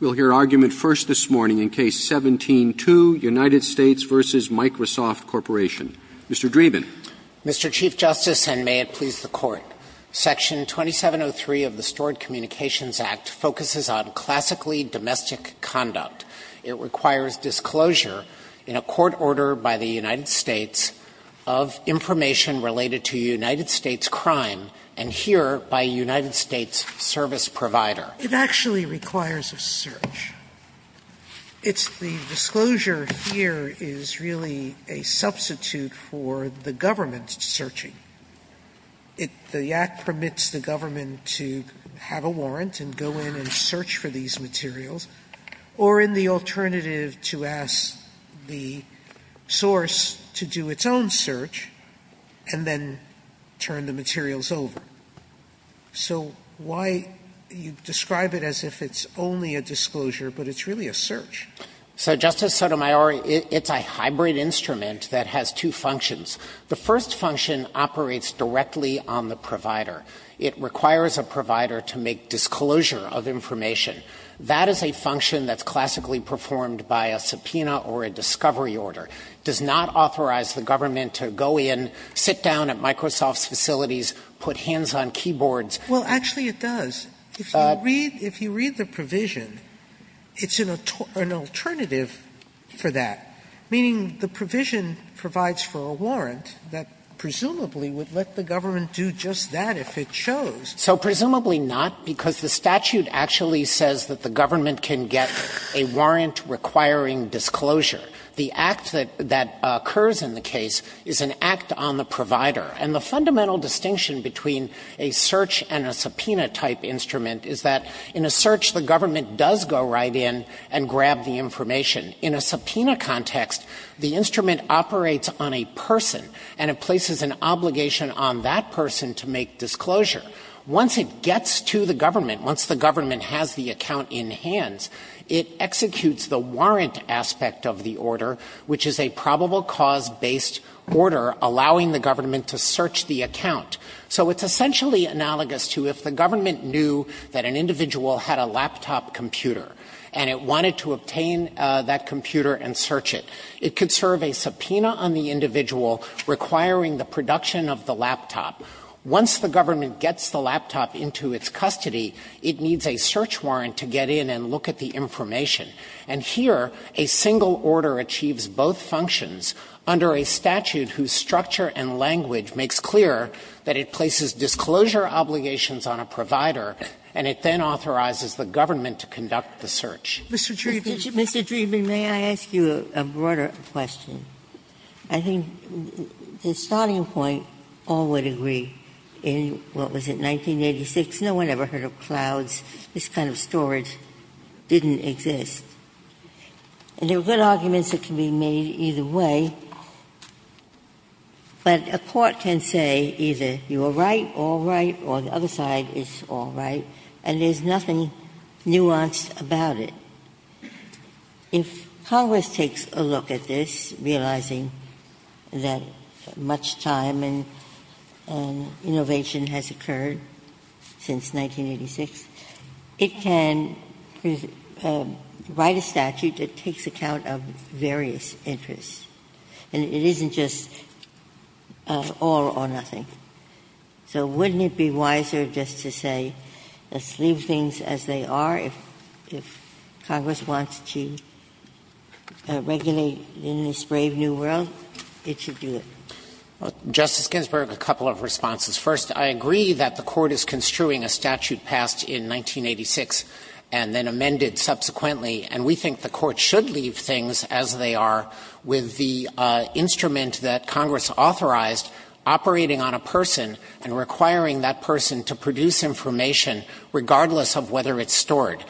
We'll hear argument first this morning in Case 17-2, United States v. Microsoft Corporation. Mr. Dreeben. Mr. Chief Justice, and may it please the Court, Section 2703 of the Stored Communications Act focuses on classically domestic conduct. It requires disclosure in a court order by the United States of information related to United States crime, and here, by a United States service provider. Sotomayor It actually requires a search. It's the disclosure here is really a substitute for the government searching. It the act permits the government to have a warrant and go in and search for these materials or in the alternative to ask the source to do its own search and then turn the materials over. Sotomayor So why you describe it as if it's only a disclosure, but it's really a search. Mr. Dreeben So, Justice Sotomayor, it's a hybrid instrument that has two functions. The first function operates directly on the provider. It requires a provider to make disclosure of information. That is a function that's classically performed by a subpoena or a discovery order. It does not authorize the government to go in, sit down at Microsoft's facilities, put hands on keyboards. Sotomayor Well, actually, it does. If you read the provision, it's an alternative for that, meaning the provision provides for a warrant that presumably would let the government do just that if it chose. Mr. Dreeben So presumably not, because the statute actually says that the government can get a warrant requiring disclosure. The act that occurs in the case is an act on the provider. And the fundamental distinction between a search and a subpoena-type instrument is that in a search, the government does go right in and grab the information. In a subpoena context, the instrument operates on a person, and it places an obligation on that person to make disclosure. Once it gets to the government, once the government has the account in hands, it executes the warrant aspect of the order, which is a probable cause-based order allowing the government to search the account. So it's essentially analogous to if the government knew that an individual had a laptop computer and it wanted to obtain that computer and search it. It could serve a subpoena on the individual requiring the production of the laptop. Once the government gets the laptop into its custody, it needs a search warrant to get in and look at the information. And here, a single order achieves both functions under a statute whose structure and language makes clear that it places disclosure obligations on a provider, and it then authorizes the government to conduct the search. Sotomayor, Mr. Dreeben, may I ask you a broader question? I think the starting point, all would agree, in what was it, 1986, no one ever heard of clouds, this kind of storage didn't exist. And there are good arguments that can be made either way, but a court can say either you are right, all right, or the other side is all right, and there's nothing nuanced about it. If Congress takes a look at this, realizing that much time and innovation has occurred since 1986, it can write a statute that takes account of various interests, and it isn't just all or nothing. So wouldn't it be wiser just to say let's leave things as they are if Congress wants to regulate in this brave new world, it should do it? Dreeben, Justice Ginsburg, a couple of responses. First, I agree that the Court is construing a statute passed in 1986 and then amended subsequently, and we think the Court should leave things as they are with the instrument that Congress authorized operating on a person and requiring that person to produce information regardless of whether it's stored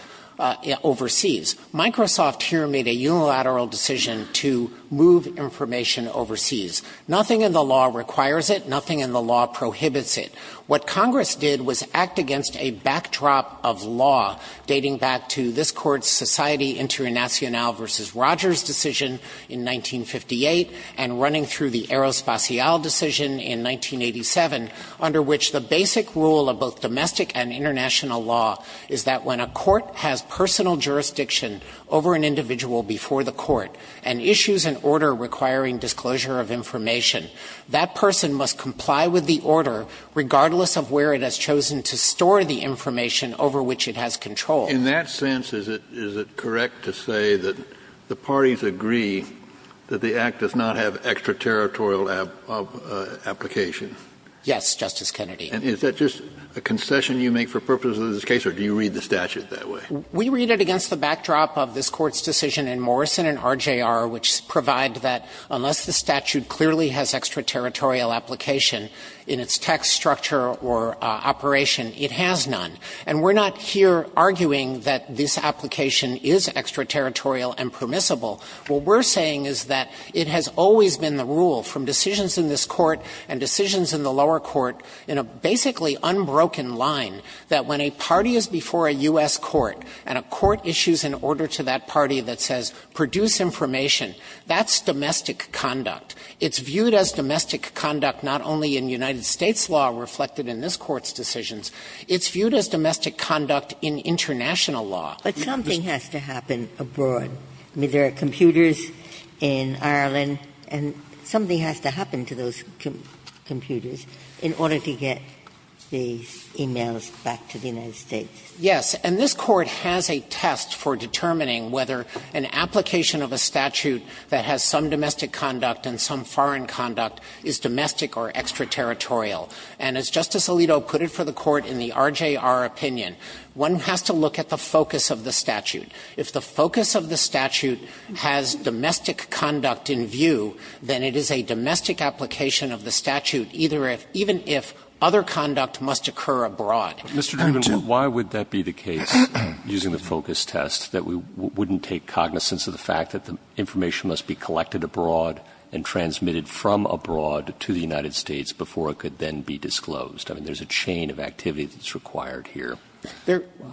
overseas. Microsoft here made a unilateral decision to move information overseas. Nothing in the law requires it. Nothing in the law prohibits it. What Congress did was act against a backdrop of law dating back to this Court's Society Internationale v. Rogers decision in 1958 and running through the Aerospatiale decision in 1987, under which the basic rule of both domestic and international law is that when a court has personal jurisdiction over an individual before the court and issues an order requiring disclosure of information, that person must comply with the order regardless of where it has chosen to store the information over which it has control. In that sense, is it correct to say that the parties agree that the Act does not have an extraterritorial application? Yes, Justice Kennedy. And is that just a concession you make for purposes of this case, or do you read the statute that way? We read it against the backdrop of this Court's decision in Morrison and RJR, which provide that unless the statute clearly has extraterritorial application in its tax structure or operation, it has none. And we're not here arguing that this application is extraterritorial and permissible. What we're saying is that it has always been the rule from decisions in this Court and decisions in the lower court in a basically unbroken line that when a party is before a U.S. court and a court issues an order to that party that says produce information, that's domestic conduct. It's viewed as domestic conduct not only in United States law reflected in this Court's decisions, it's viewed as domestic conduct in international law. But something has to happen abroad. I mean, there are computers in Ireland, and something has to happen to those computers in order to get these e-mails back to the United States. Yes. And this Court has a test for determining whether an application of a statute that has some domestic conduct and some foreign conduct is domestic or extraterritorial. And as Justice Alito put it for the Court in the RJR opinion, one has to look at the focus of the statute. If the focus of the statute has domestic conduct in view, then it is a domestic application of the statute either if, even if, other conduct must occur abroad. Mr. Dreeben, why would that be the case, using the focus test, that we wouldn't take cognizance of the fact that the information must be collected abroad and transmitted from abroad to the United States before it could then be disclosed? I mean, there's a chain of activity that's required here.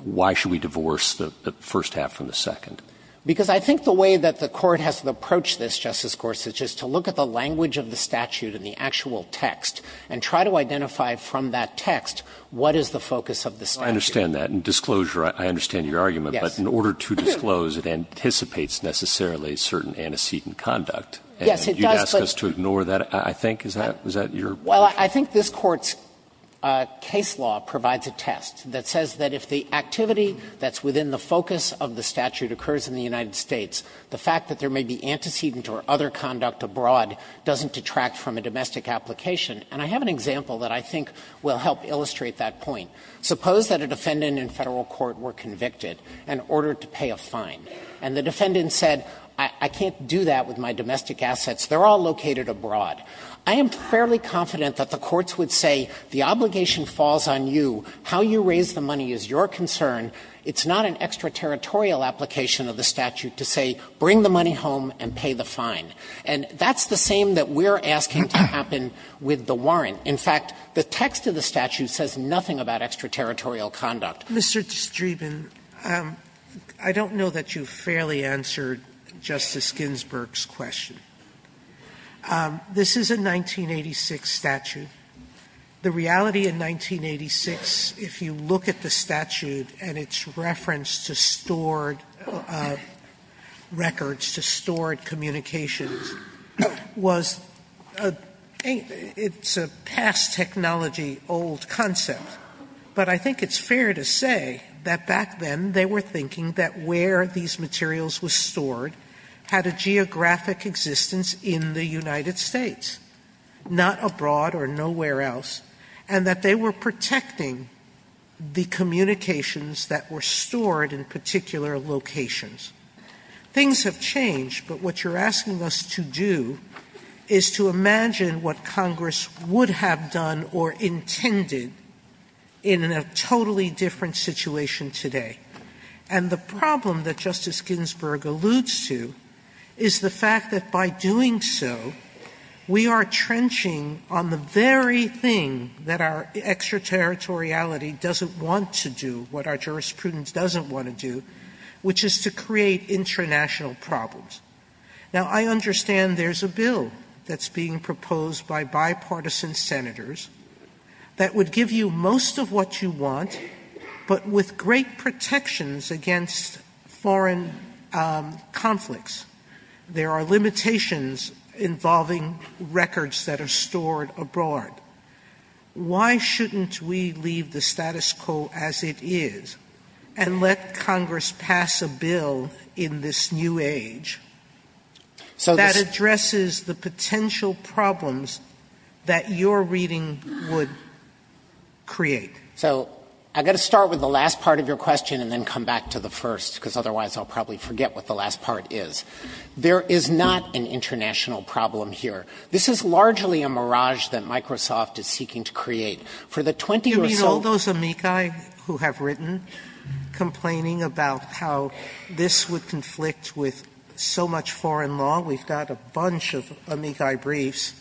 Why should we divorce the first half from the second? Because I think the way that the Court has to approach this, Justice Gorsuch, is to look at the language of the statute in the actual text and try to identify from that text what is the focus of the statute. Well, I understand that. In disclosure, I understand your argument. Yes. But in order to disclose, it anticipates necessarily certain antecedent conduct. Yes, it does, but you'd ask us to ignore that, I think. Is that your point? Well, I think this Court's case law provides a test that says that if the activity that's within the focus of the statute occurs in the United States, the fact that there may be antecedent or other conduct abroad doesn't detract from a domestic application. And I have an example that I think will help illustrate that point. Suppose that a defendant in Federal court were convicted and ordered to pay a fine. And the defendant said, I can't do that with my domestic assets. They're all located abroad. I am fairly confident that the courts would say the obligation falls on you, how you raise the money is your concern. It's not an extraterritorial application of the statute to say bring the money home and pay the fine. And that's the same that we're asking to happen with the warrant. In fact, the text of the statute says nothing about extraterritorial conduct. Sotomayor, I don't know that you fairly answered Justice Ginsburg's question. This is a 1986 statute. The reality in 1986, if you look at the statute and its reference to stored records, to stored communications, was a past technology old concept. But I think it's fair to say that back then they were thinking that where these communications were stored, they were in existence in the United States, not abroad or nowhere else, and that they were protecting the communications that were stored in particular locations. Things have changed, but what you're asking us to do is to imagine what Congress would have done or intended in a totally different situation today. And the problem that Justice Ginsburg alludes to is the fact that by doing so, we are trenching on the very thing that our extraterritoriality doesn't want to do, what our jurisprudence doesn't want to do, which is to create intranational problems. Now, I understand there's a bill that's being proposed by bipartisan senators that would give you most of what you want, but with great protections against foreign conflicts. There are limitations involving records that are stored abroad. Why shouldn't we leave the status quo as it is and let Congress pass a bill in this new age that addresses the potential problems that your reading would create? So I've got to start with the last part of your question and then come back to the first, because otherwise I'll probably forget what the last part is. There is not an international problem here. This is largely a mirage that Microsoft is seeking to create. For the 20 or so — Sotomayor, I'm just wondering about how this would conflict with so much foreign law. We've got a bunch of amici briefs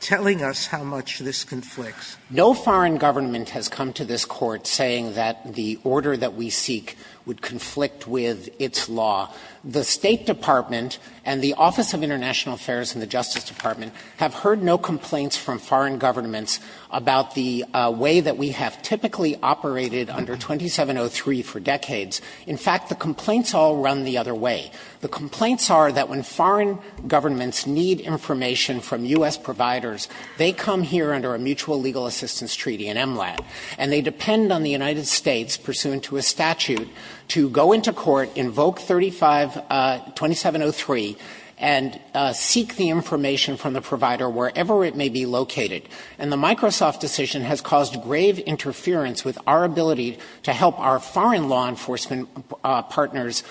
telling us how much this conflicts. No foreign government has come to this Court saying that the order that we seek would conflict with its law. The State Department and the Office of International Affairs and the Justice Department have heard no complaints from foreign governments about the way that we have typically operated under 2703 for decades. In fact, the complaints all run the other way. The complaints are that when foreign governments need information from U.S. providers, they come here under a mutual legal assistance treaty, an MLAT, and they depend on the United States, pursuant to a statute, to go into court, invoke 35 — 2703, and seek the information from the provider wherever it may be located. And the Microsoft decision has caused grave interference with our ability to help our foreign law enforcement partners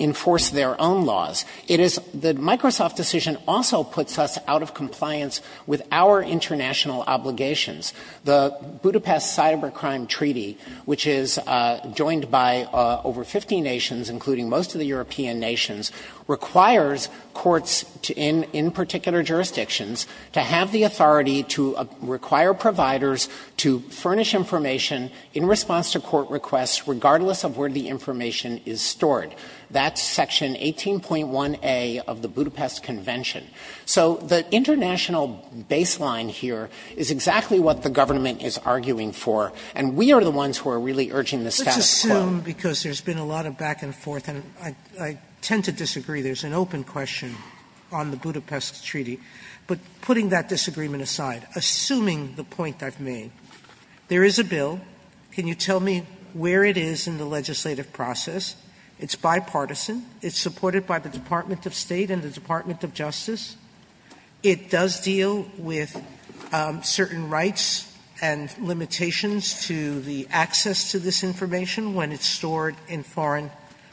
enforce their own laws. It is — the Microsoft decision also puts us out of compliance with our international obligations. The Budapest Cybercrime Treaty, which is joined by over 50 nations, including most of the European nations, requires courts in — in particular jurisdictions to have the authority to require providers to furnish information in response to court requests, regardless of where the information is stored. That's Section 18.1a of the Budapest Convention. So the international baseline here is exactly what the government is arguing for. And we are the ones who are really urging the status quo. Sotomayor, because there's been a lot of back and forth, and I — I tend to disagree. There's an open question on the Budapest Treaty. But putting that disagreement aside, assuming the point I've made, there is a bill. Can you tell me where it is in the legislative process? It's bipartisan. It's supported by the Department of State and the Department of Justice. It does deal with certain rights and limitations to the access to this information when it's stored in foreign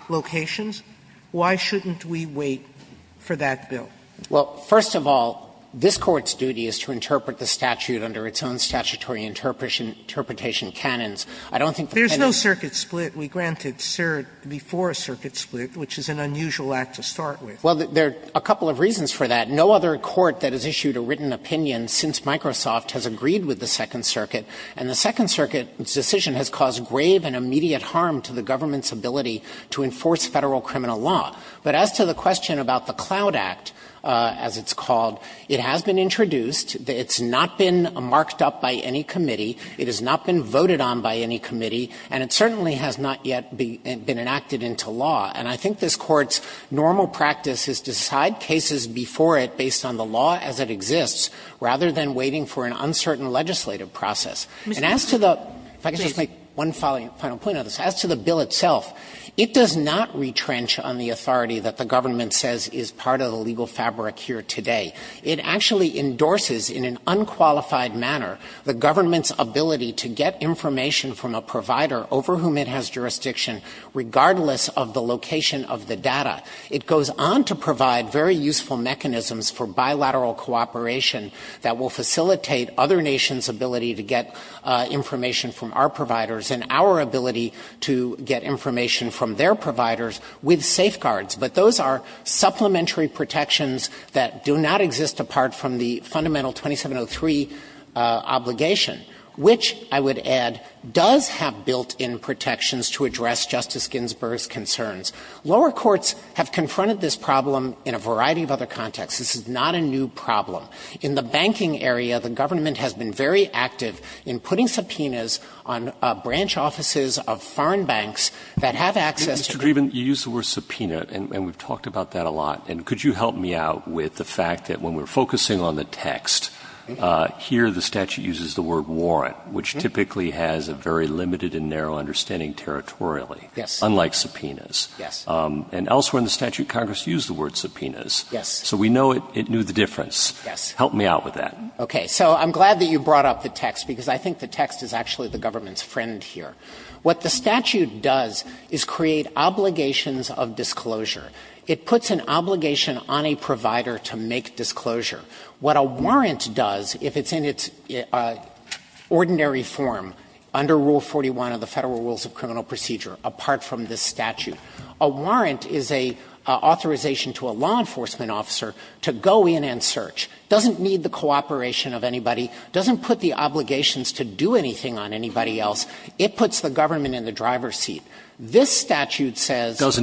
locations. Why shouldn't we wait for that bill? Well, first of all, this Court's duty is to interpret the statute under its own statutory interpretation — interpretation canons. I don't think the pen — There's no circuit split. We granted cert before a circuit split, which is an unusual act to start with. Well, there are a couple of reasons for that. No other court that has issued a written opinion since Microsoft has agreed with the Second Circuit. And the Second Circuit's decision has caused grave and immediate harm to the government's ability to enforce Federal criminal law. But as to the question about the CLOUD Act, as it's called, it has been introduced. It's not been marked up by any committee. It has not been voted on by any committee. And it certainly has not yet been enacted into law. And I think this Court's normal practice is to decide cases before it based on the law as it exists, rather than waiting for an uncertain legislative process. And as to the — If I could just make one final point on this. As to the bill itself, it does not retrench on the authority that the government says is part of the legal fabric here today. It actually endorses in an unqualified manner the government's ability to get information from a provider over whom it has jurisdiction, regardless of the location of the data. It goes on to provide very useful mechanisms for bilateral cooperation that will facilitate other nations' ability to get information from our providers and our ability to get information from their providers with safeguards. But those are supplementary protections that do not exist apart from the fundamental 2703 obligation, which I would add does have built-in protections to address Justice Ginsburg's concerns. Lower courts have confronted this problem in a variety of other contexts. This is not a new problem. In the banking area, the government has been very active in putting subpoenas on branch offices of foreign banks that have access to the — Mr. Dreeben, you use the word subpoena, and we've talked about that a lot. And could you help me out with the fact that when we're focusing on the text, here the statute uses the word warrant, which typically has a very limited and narrow understanding territorially, unlike subpoenas. Yes. And elsewhere in the statute, Congress used the word subpoenas. Yes. So we know it knew the difference. Yes. Help me out with that. Okay. So I'm glad that you brought up the text, because I think the text is actually the government's friend here. What the statute does is create obligations of disclosure. It puts an obligation on a provider to make disclosure. What a warrant does, if it's in its ordinary form under Rule 41 of the Federal Rules of Criminal Procedure, apart from this statute, a warrant is an authorization to a law enforcement officer to go in and search. It doesn't need the cooperation of anybody. It doesn't put the obligations to do anything on anybody else. It puts the government in the driver's seat. This statute says that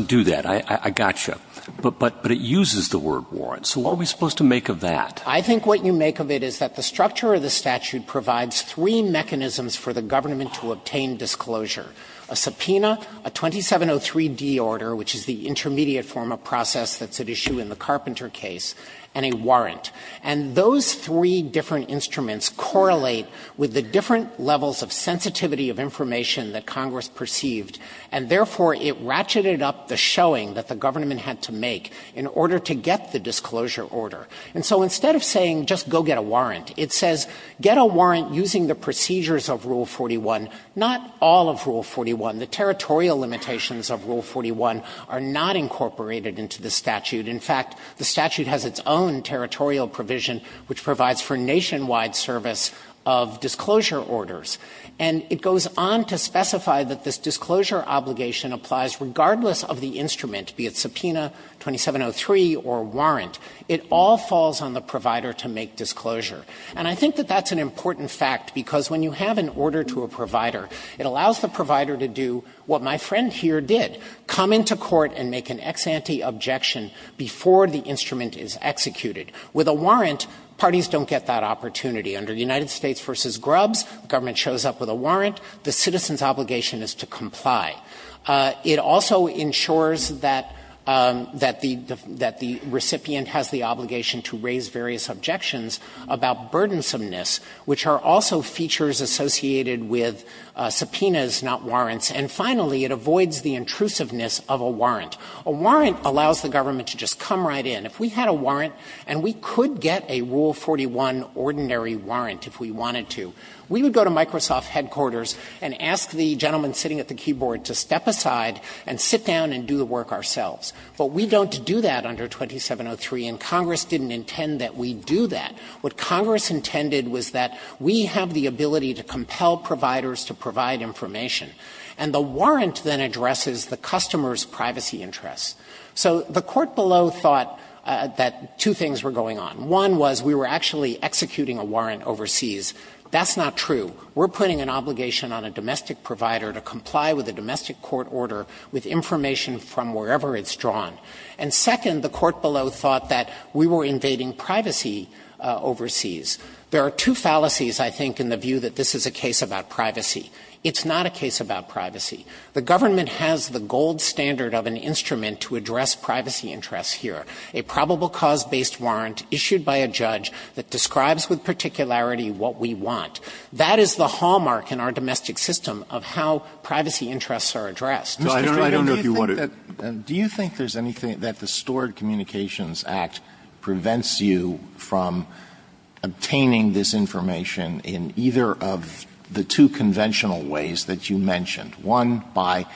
it uses the word warrant. So what are we supposed to make of that? I think what you make of it is that the structure of the statute provides three mechanisms for the government to obtain disclosure, a subpoena, a 2703D order, which is the intermediate form of process that's at issue in the Carpenter case, and a warrant. And those three different instruments correlate with the different levels of sensitivity of information that Congress perceived, and therefore, it ratcheted up the showing that the government had to make in order to get the disclosure order. And so instead of saying just go get a warrant, it says get a warrant using the procedures of Rule 41, not all of Rule 41. The territorial limitations of Rule 41 are not incorporated into the statute. In fact, the statute has its own territorial provision, which provides for nationwide service of disclosure orders. And it goes on to specify that this disclosure obligation applies regardless of the instrument, be it subpoena, 2703, or warrant. It all falls on the provider to make disclosure. And I think that that's an important fact, because when you have an order to a provider, it allows the provider to do what my friend here did, come into court and make an ex before the instrument is executed. With a warrant, parties don't get that opportunity. Under United States v. Grubbs, government shows up with a warrant. The citizen's obligation is to comply. It also ensures that the recipient has the obligation to raise various objections about burdensomeness, which are also features associated with subpoenas, not warrants. A warrant allows the government to just come right in. If we had a warrant, and we could get a Rule 41 ordinary warrant if we wanted to, we would go to Microsoft headquarters and ask the gentleman sitting at the keyboard to step aside and sit down and do the work ourselves. But we don't do that under 2703, and Congress didn't intend that we do that. What Congress intended was that we have the ability to compel providers to provide information. And the warrant then addresses the customer's privacy interests. So the court below thought that two things were going on. One was we were actually executing a warrant overseas. That's not true. We're putting an obligation on a domestic provider to comply with a domestic court order with information from wherever it's drawn. And second, the court below thought that we were invading privacy overseas. There are two fallacies, I think, in the view that this is a case about privacy. It's not a case about privacy. The government has the gold standard of an instrument to address privacy interests here. A probable cause-based warrant issued by a judge that describes with particularity what we want. That is the hallmark in our domestic system of how privacy interests are addressed. Breyer, I don't know if you want to do that. Alito, do you think there's anything that the Stored Communications Act prevents you from obtaining this information in either of the two conventional ways that you mentioned? One, by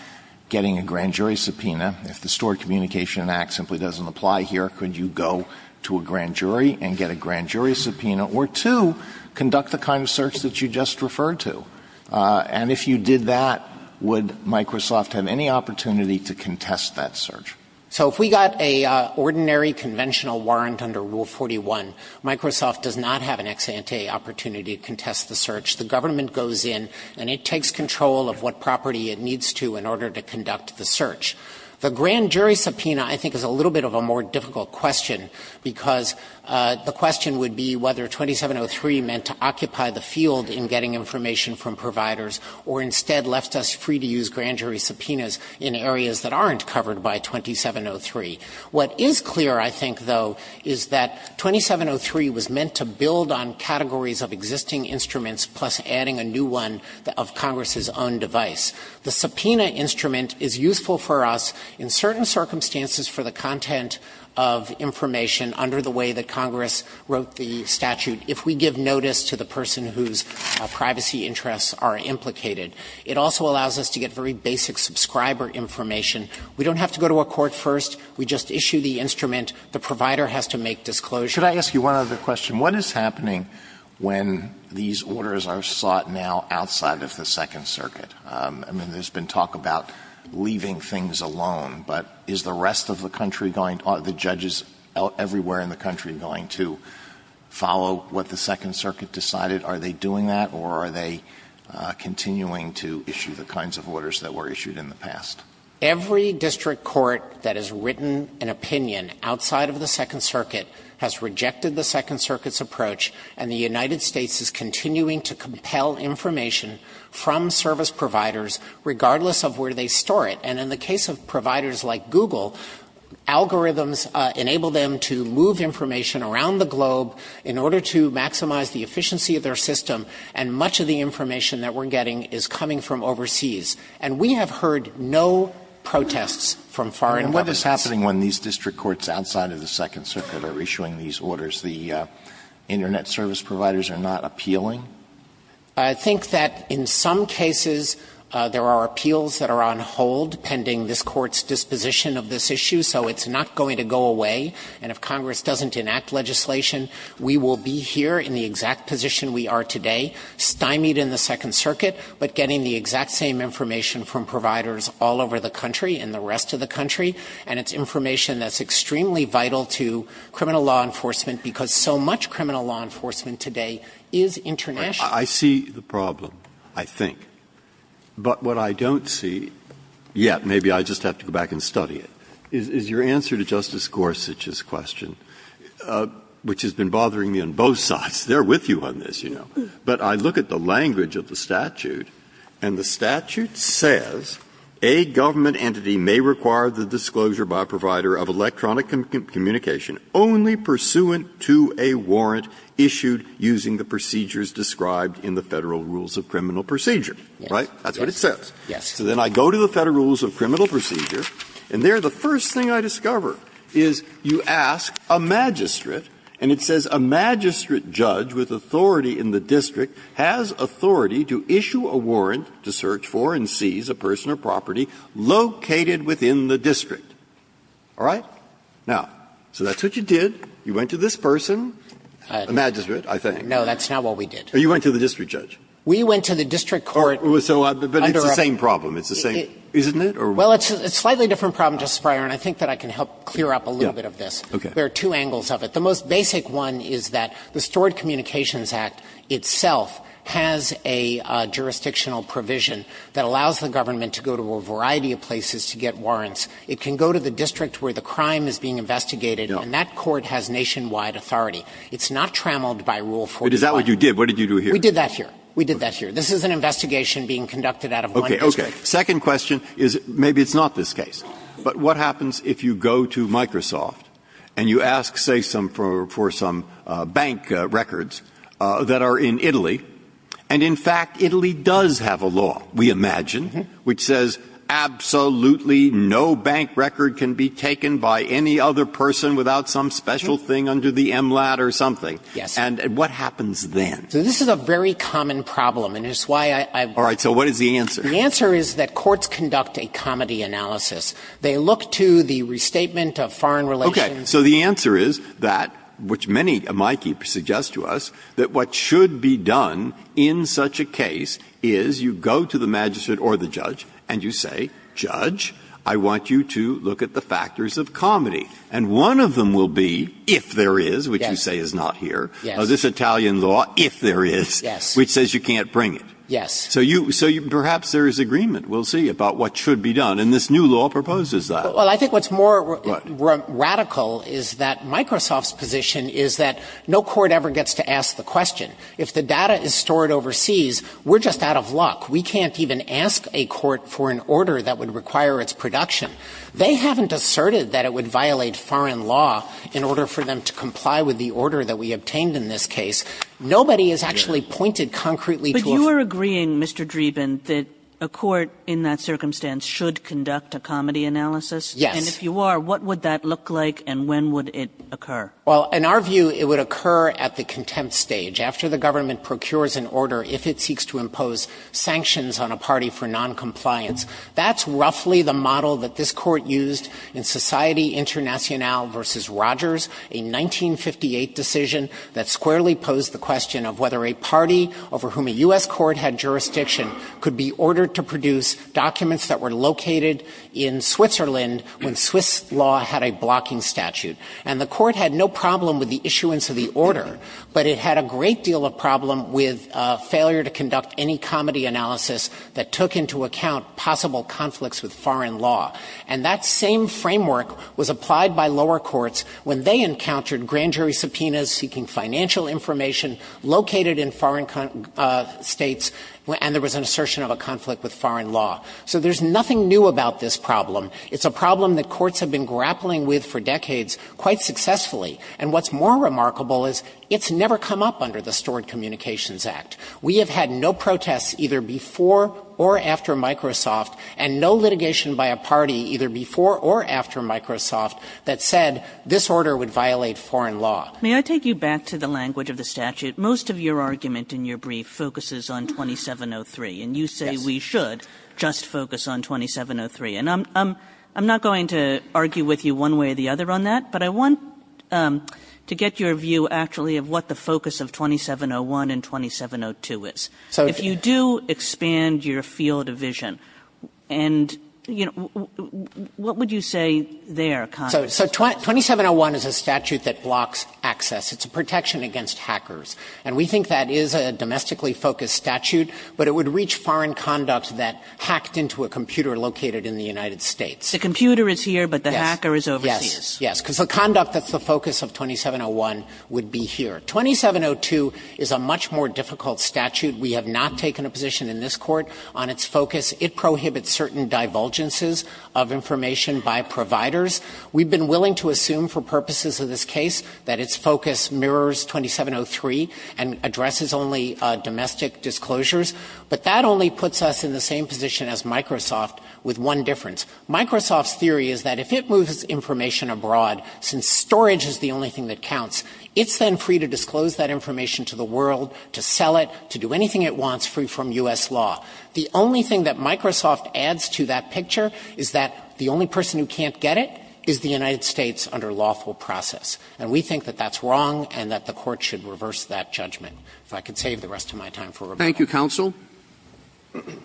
getting a grand jury subpoena. If the Stored Communications Act simply doesn't apply here, could you go to a grand jury and get a grand jury subpoena? Or two, conduct the kind of search that you just referred to. And if you did that, would Microsoft have any opportunity to contest that search? So if we got an ordinary conventional warrant under Rule 41, Microsoft does not have an ex ante opportunity to contest the search. The government goes in and it takes control of what property it needs to in order to conduct the search. The grand jury subpoena, I think, is a little bit of a more difficult question, because the question would be whether 2703 meant to occupy the field in getting information from providers, or instead left us free to use grand jury subpoenas in areas that aren't covered by 2703. What is clear, I think, though, is that 2703 was meant to build on categories of existing instruments, plus adding a new one of Congress's own device. The subpoena instrument is useful for us in certain circumstances for the content of information under the way that Congress wrote the statute, if we give notice to the person whose privacy interests are implicated. It also allows us to get very basic subscriber information. We don't have to go to a court first. We just issue the instrument. The provider has to make disclosures. Should I ask you one other question? What is happening when these orders are sought now outside of the Second Circuit? I mean, there's been talk about leaving things alone, but is the rest of the country going, are the judges everywhere in the country going to follow what the Second Circuit decided? Are they doing that, or are they continuing to issue the kinds of orders that were issued in the past? Every district court that has written an opinion outside of the Second Circuit has rejected the Second Circuit's approach, and the United States is continuing to compel information from service providers, regardless of where they store it. And in the case of providers like Google, algorithms enable them to move information around the globe in order to maximize the efficiency of their system, and much of the information that we're getting is coming from overseas. And we have heard no protests from foreign governments. And what is happening when these district courts outside of the Second Circuit are issuing these orders? The Internet service providers are not appealing? I think that in some cases, there are appeals that are on hold pending this Court's disposition of this issue, so it's not going to go away. And if Congress doesn't enact legislation, we will be here in the exact position we are today, stymied in the Second Circuit, but getting the exact same information from providers all over the country and the rest of the country, and it's information that's extremely vital to criminal law enforcement, because so much criminal law enforcement today is international. Breyer. I see the problem, I think. But what I don't see yet, maybe I just have to go back and study it, is your answer to Justice Gorsuch's question, which has been bothering me on both sides. They are with you on this, you know. But I look at the language of the statute, and the statute says, A government entity may require the disclosure by a provider of electronic communication only pursuant to a warrant issued using the procedures described in the Federal Rules of Criminal Procedure. Right? That's what it says. So then I go to the Federal Rules of Criminal Procedure, and there, the first thing I discover is you ask a magistrate, and it says, A magistrate judge with authority in the district has authority to issue a warrant to search for and seize a person or property located within the district. All right? Now, so that's what you did. You went to this person, a magistrate, I think. Dreeben. No, that's not what we did. You went to the district judge. We went to the district court. But it's the same problem. It's the same. Isn't it? Well, it's a slightly different problem, Justice Breyer, and I think that I can help clear up a little bit of this. There are two angles of it. The most basic one is that the Stored Communications Act itself has a jurisdictional provision that allows the government to go to a variety of places to get warrants. It can go to the district where the crime is being investigated, and that court has nationwide authority. It's not trammeled by Rule 41. But is that what you did? What did you do here? We did that here. We did that here. This is an investigation being conducted out of one district. Okay. Second question is maybe it's not this case. But what happens if you go to Microsoft and you ask, say, for some bank records that are in Italy, and in fact, Italy does have a law, we imagine, which says absolutely no bank record can be taken by any other person without some special thing under the MLAT or something? Yes. And what happens then? So this is a very common problem, and it's why I've been here. All right. So what is the answer? The answer is that courts conduct a comedy analysis. They look to the restatement of foreign relations. Okay. So the answer is that, which many of my key suggests to us, that what should be done in such a case is you go to the magistrate or the judge and you say, judge, I want you to look at the factors of comedy. And one of them will be if there is, which you say is not here. Yes. This Italian law, if there is, which says you can't bring it. Yes. So you, so perhaps there is agreement, we'll see, about what should be done. And this new law proposes that. Well, I think what's more radical is that Microsoft's position is that no court ever gets to ask the question. If the data is stored overseas, we're just out of luck. We can't even ask a court for an order that would require its production. They haven't asserted that it would violate foreign law in order for them to comply with the order that we obtained in this case. Nobody has actually pointed concretely to a foreign law. So you're saying, Mr. Dreeben, that a court in that circumstance should conduct a comedy analysis? Yes. And if you are, what would that look like and when would it occur? Well, in our view, it would occur at the contempt stage, after the government procures an order if it seeks to impose sanctions on a party for noncompliance. That's roughly the model that this court used in Society Internationale v. Rogers, a 1958 decision that squarely posed the question of whether a party over whom a U.S. court had jurisdiction could be ordered to produce documents that were located in Switzerland when Swiss law had a blocking statute. And the court had no problem with the issuance of the order, but it had a great deal of problem with failure to conduct any comedy analysis that took into account possible conflicts with foreign law. And that same framework was applied by lower courts when they encountered grand jury subpoenas, seeking financial information located in foreign states, and there was an assertion of a conflict with foreign law. So there's nothing new about this problem. It's a problem that courts have been grappling with for decades quite successfully. And what's more remarkable is it's never come up under the Stored Communications Act. We have had no protests either before or after Microsoft, and no litigation by a party either before or after Microsoft that said this order would violate foreign law. Kagan. May I take you back to the language of the statute? Most of your argument in your brief focuses on 2703. And you say we should just focus on 2703. And I'm not going to argue with you one way or the other on that, but I want to get your view, actually, of what the focus of 2701 and 2702 is. So if you do expand your field of vision and, you know, what would you say there So 2701 is a statute that blocks access. It's a protection against hackers. And we think that is a domestically focused statute, but it would reach foreign conduct that hacked into a computer located in the United States. The computer is here, but the hacker is overseas. Yes, yes, because the conduct that's the focus of 2701 would be here. 2702 is a much more difficult statute. We have not taken a position in this Court on its focus. It prohibits certain divulgences of information by providers. We've been willing to assume for purposes of this case that its focus mirrors 2703 and addresses only domestic disclosures. But that only puts us in the same position as Microsoft with one difference. Microsoft's theory is that if it moves information abroad, since storage is the only thing that counts, it's then free to disclose that information to the world, to sell it, to do anything it wants free from U.S. law. The only thing that Microsoft adds to that picture is that the only person who can't get it is the United States under lawful process. And we think that that's wrong and that the Court should reverse that judgment. If I could save the rest of my time for rebuttal. Roberts.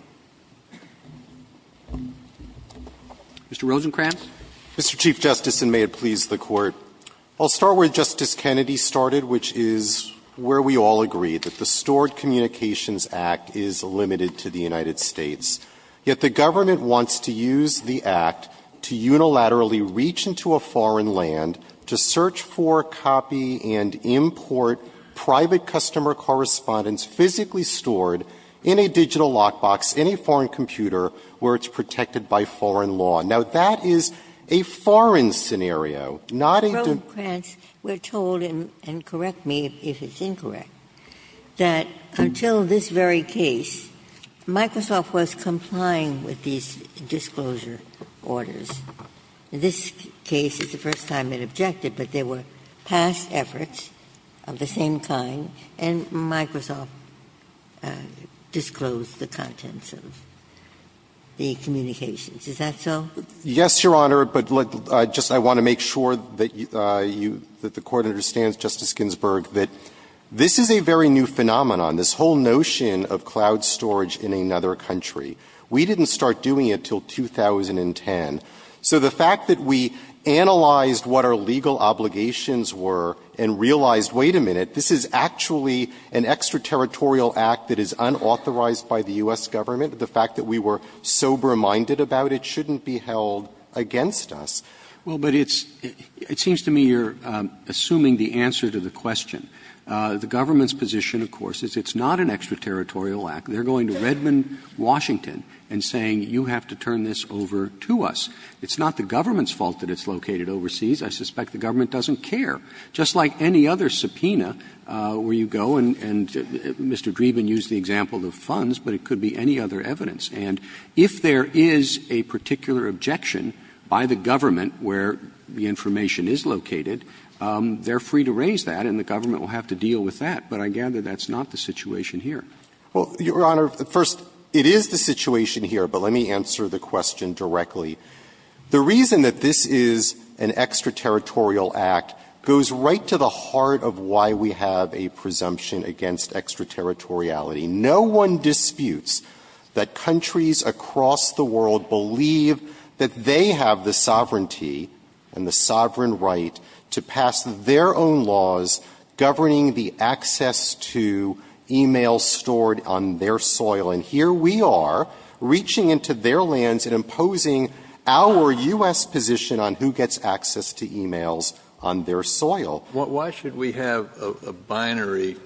Mr. Rosenkranz. Rosenkranz. Mr. Chief Justice, and may it please the Court, I'll start where Justice Kennedy started, which is where we all agree, that the Stored Communications Act is limited to the United States, yet the government wants to use the act to unilaterally reach into a foreign land to search for, copy, and import private customer correspondence physically stored in a digital lockbox in a foreign computer where it's protected by foreign law. Now, that is a foreign scenario, not a don't do it. I would like to make a point, and you can hold him and correct me if it's incorrect, that until this very case, Microsoft was complying with these disclosure orders. In this case, it's the first time it objected, but there were past efforts of the same kind, and Microsoft disclosed the contents of the communications. Is that so? Yes, Your Honor, but just I want to make sure that you – that the Court understands, Justice Ginsburg, that this is a very new phenomenon, this whole notion of cloud storage in another country. We didn't start doing it until 2010. So the fact that we analyzed what our legal obligations were and realized, wait a minute, this is actually an extraterritorial act that is unauthorized by the U.S. Government, the fact that we were sober-minded about it shouldn't be held against us. Roberts. Well, but it's – it seems to me you're assuming the answer to the question. The government's position, of course, is it's not an extraterritorial act. They're going to Redmond, Washington, and saying you have to turn this over to us. It's not the government's fault that it's located overseas. I suspect the government doesn't care. Just like any other subpoena where you go and Mr. Dreeben used the example of funds, but it could be any other evidence. And if there is a particular objection by the government where the information is located, they're free to raise that and the government will have to deal with that, but I gather that's not the situation here. Well, Your Honor, first, it is the situation here, but let me answer the question directly. The reason that this is an extraterritorial act goes right to the heart of why we have a presumption against extraterritoriality. No one disputes that countries across the world believe that they have the sovereignty and the sovereign right to pass their own laws governing the access to e-mails stored on their soil. And here we are, reaching into their lands and imposing our U.S. position on who gets access to e-mails on their soil. Kennedy, why should we have a binary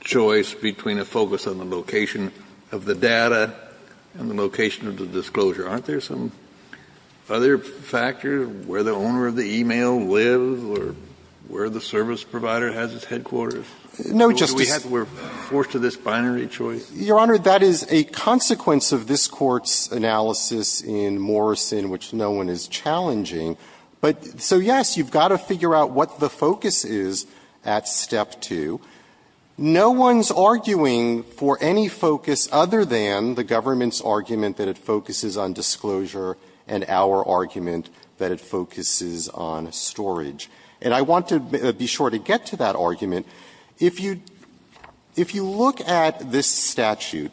choice between a focus on the location of the data and the location of the disclosure? Aren't there some other factors, where the owner of the e-mail lives or where the service provider has its headquarters? No, Justice Sotomayor, we're forced to this binary choice? Your Honor, that is a consequence of this Court's analysis in Morrison, which no one is challenging. But so, yes, you've got to figure out what the focus is at step two. No one's arguing for any focus other than the government's argument that it focuses on disclosure and our argument that it focuses on storage. And I want to be sure to get to that argument. If you look at this statute,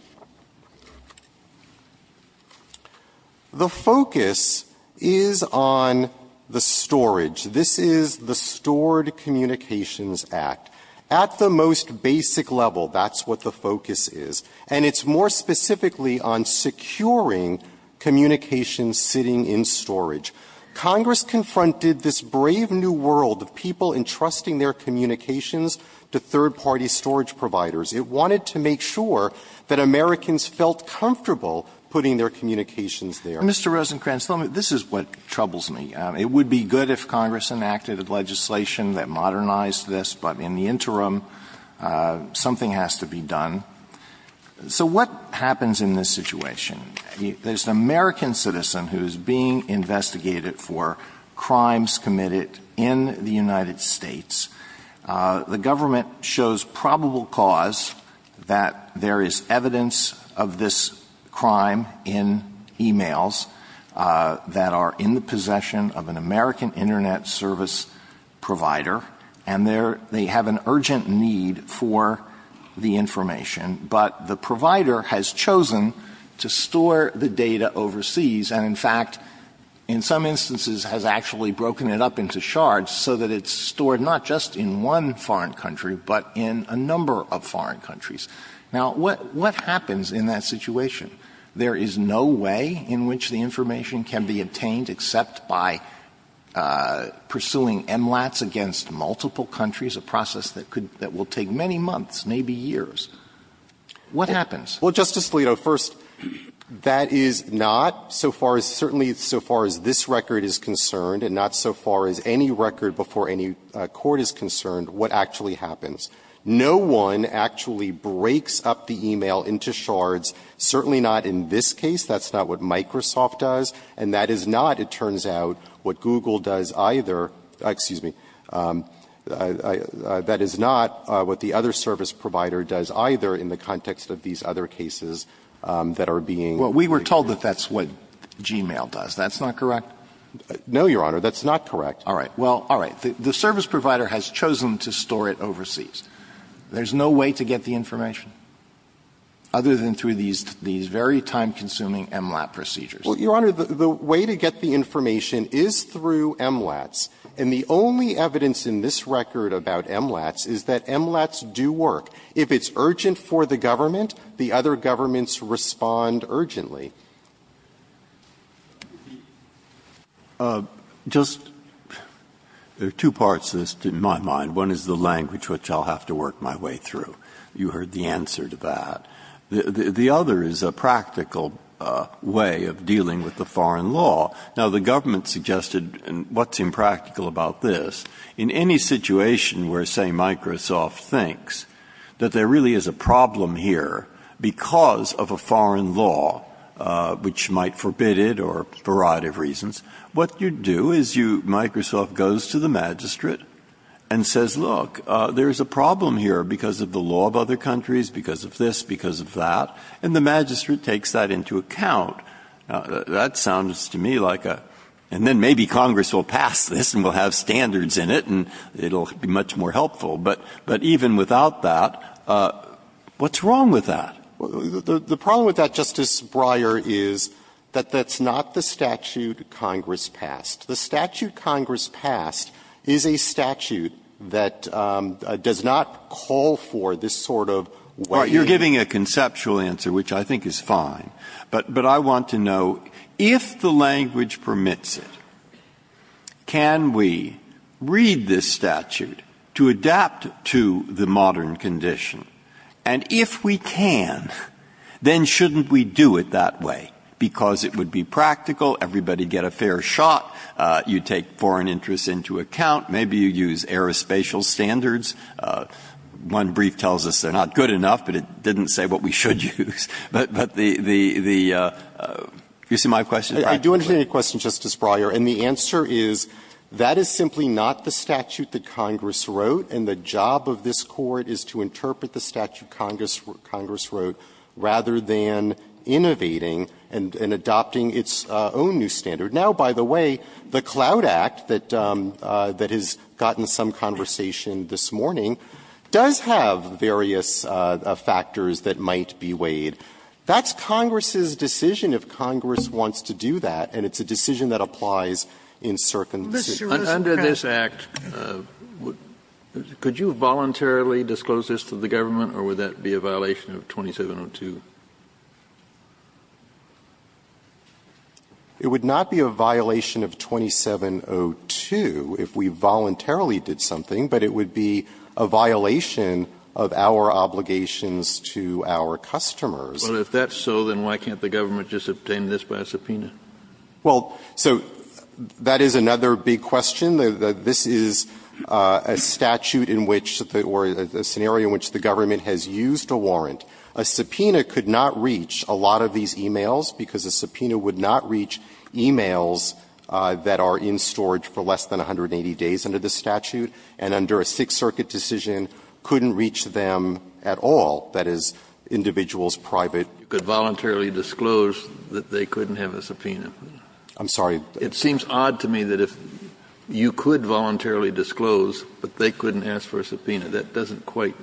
the focus is on the disclosure of the data. It's not on the storage. This is the Stored Communications Act. At the most basic level, that's what the focus is. And it's more specifically on securing communications sitting in storage. Congress confronted this brave new world of people entrusting their communications to third-party storage providers. It wanted to make sure that Americans felt comfortable putting their communications there. Mr. Rosenkranz, this is what troubles me. It would be good if Congress enacted legislation that modernized this, but in the interim, something has to be done. So what happens in this situation? There's an American citizen who's being investigated for crimes committed in the United States. The government shows probable cause that there is evidence of this crime in e-mails. That are in the possession of an American internet service provider. And they have an urgent need for the information. But the provider has chosen to store the data overseas. And in fact, in some instances, has actually broken it up into shards so that it's stored not just in one foreign country, but in a number of foreign countries. Now, what happens in that situation? There is no way in which the information can be obtained except by pursuing MLATs against multiple countries, a process that could – that will take many months, maybe years. What happens? Rosenkranz, Well, Justice Alito, first, that is not, so far as – certainly so far as this record is concerned, and not so far as any record before any court is concerned, what actually happens. No one actually breaks up the e-mail into shards, certainly not in this case. That's not what Microsoft does. And that is not, it turns out, what Google does either – excuse me. That is not what the other service provider does either in the context of these other cases that are being – Alito Well, we were told that that's what Gmail does. That's not correct? Rosenkranz No, Your Honor. That's not correct. Alito All right. Well, all right. The service provider has chosen to store it overseas. There's no way to get the information other than through these very time-consuming MLAT procedures. Rosenkranz Well, Your Honor, the way to get the information is through MLATs. And the only evidence in this record about MLATs is that MLATs do work. If it's urgent for the government, the other governments respond urgently. Breyer Just – there are two parts to this in my mind. One is the language which I'll have to work my way through. You heard the answer to that. The other is a practical way of dealing with the foreign law. Now, the government suggested – and what's impractical about this – in any situation where, say, Microsoft thinks that there really is a problem here because of a foreign law, which might forbid it for a variety of reasons, what you do is you – Microsoft goes to the magistrate and says, look, there's a problem here because of the law of other countries, because of this, because of that. And the magistrate takes that into account. That sounds to me like a – and then maybe Congress will pass this and we'll have standards in it and it'll be much more helpful. But even without that, what's wrong with that? The problem with that, Justice Breyer, is that that's not the statute Congress passed. The statute Congress passed is a statute that does not call for this sort of way of dealing. Breyer You're giving a conceptual answer, which I think is fine. But I want to know, if the language permits it, can we read this statute to adapt to the modern condition? And if we can, then shouldn't we do it that way? Because it would be practical, everybody would get a fair shot, you'd take foreign interests into account, maybe you'd use aerospatial standards. One brief tells us they're not good enough, but it didn't say what we should use. But the – you see my question? I do understand your question, Justice Breyer. And the answer is that is simply not the statute that Congress wrote, and the job of this Court is to interpret the statute Congress wrote, rather than innovating and adopting its own new standard. Now, by the way, the Cloud Act that has gotten some conversation this morning does have various factors that might be weighed. That's Congress's decision, if Congress wants to do that, and it's a decision that applies in circumstances. Kennedy, under this Act, could you voluntarily disclose this to the government, or would that be a violation of 2702? It would not be a violation of 2702 if we voluntarily did something, but it would be a violation of our obligations to our customers. Well, if that's so, then why can't the government just obtain this by subpoena? Well, so that is another big question. This is a statute in which the – or a scenario in which the government has used a warrant. A subpoena could not reach a lot of these e-mails, because a subpoena would not reach e-mails that are in storage for less than 180 days under this statute. And under a Sixth Circuit decision, couldn't reach them at all, that is, individuals private. Kennedy, you could voluntarily disclose that they couldn't have a subpoena. I'm sorry. It seems odd to me that if you could voluntarily disclose, but they couldn't ask for a subpoena. That doesn't quite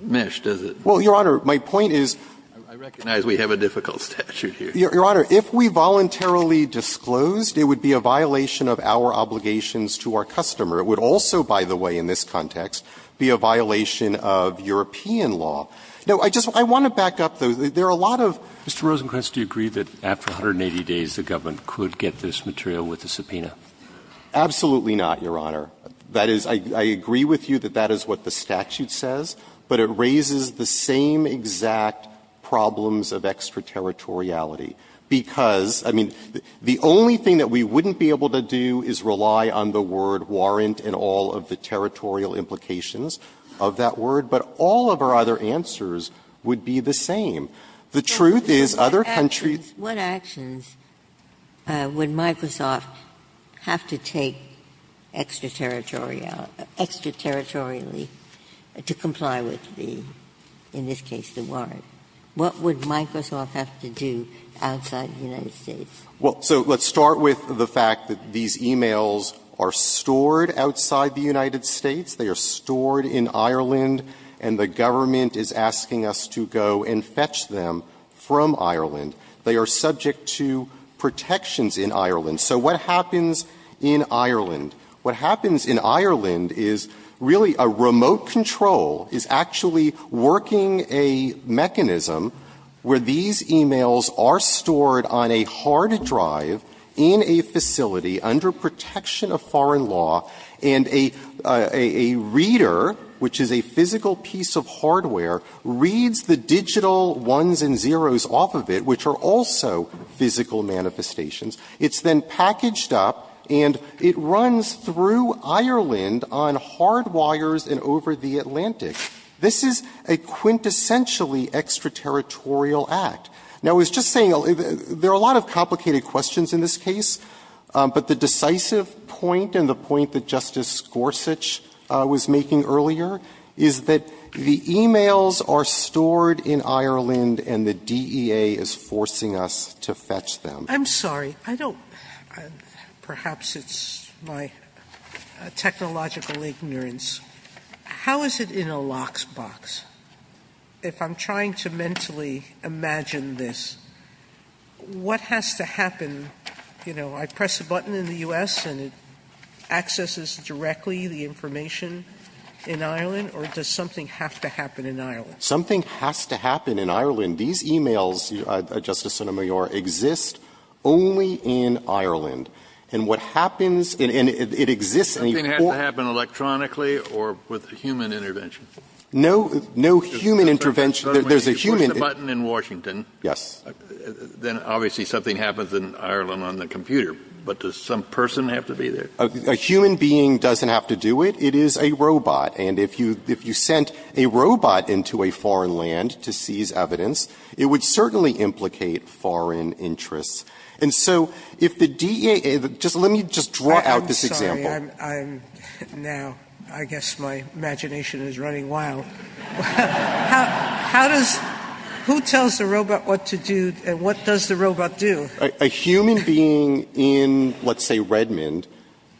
mesh, does it? Well, Your Honor, my point is – I recognize we have a difficult statute here. Your Honor, if we voluntarily disclosed, it would be a violation of our obligations to our customer. It would also, by the way, in this context, be a violation of European law. No, I just – I want to back up, though. There are a lot of – Mr. Rosenkranz, do you agree that after 180 days, the government could get this material with a subpoena? Absolutely not, Your Honor. That is – I agree with you that that is what the statute says, but it raises the same exact problems of extraterritoriality, because, I mean, the only thing that we wouldn't be able to do is rely on the word warrant and all of the territorial implications of that word, but all of our other answers would be the same. The truth is, other countries – What actions would Microsoft have to take extraterritorially to comply with the – in this case, the warrant? What would Microsoft have to do outside the United States? Well, so let's start with the fact that these e-mails are stored outside the United States. They are stored in Ireland, and the government is asking us to go and fetch them from Ireland. They are subject to protections in Ireland. So what happens in Ireland? What happens in Ireland is really a remote control is actually working a mechanism where these e-mails are stored on a hard drive in a facility under protection of foreign law, and a reader, which is a physical piece of hardware, reads the digital ones and zeros off of it, which are also physical manifestations. It's then packaged up, and it runs through Ireland on hard wires and over the Atlantic. This is a quintessentially extraterritorial act. Now, I was just saying, there are a lot of complicated questions in this case, but the decisive point and the point that Justice Gorsuch was making earlier is that the e-mails are stored in Ireland, and the DEA is forcing us to fetch them. Sotomayor I'm sorry. I don't – perhaps it's my technological ignorance. How is it in a lockbox? If I'm trying to mentally imagine this, what has to happen, you know, I press a button in the U.S. and it accesses directly the information in Ireland, or does something have to happen in Ireland? Something has to happen in Ireland. These e-mails, Justice Sotomayor, exist only in Ireland. And what happens – and it exists in a – Something has to happen electronically or with a human intervention? No, no human intervention. There's a human – You push the button in Washington. Yes. Then obviously something happens in Ireland on the computer, but does some person have to be there? A human being doesn't have to do it. It is a robot. And if you sent a robot into a foreign land to seize evidence, it would certainly implicate foreign interests. And so if the DEA – just let me just draw out this example. I'm sorry. I'm now – I guess my imagination is running wild. How does – who tells the robot what to do and what does the robot do? A human being in, let's say, Redmond,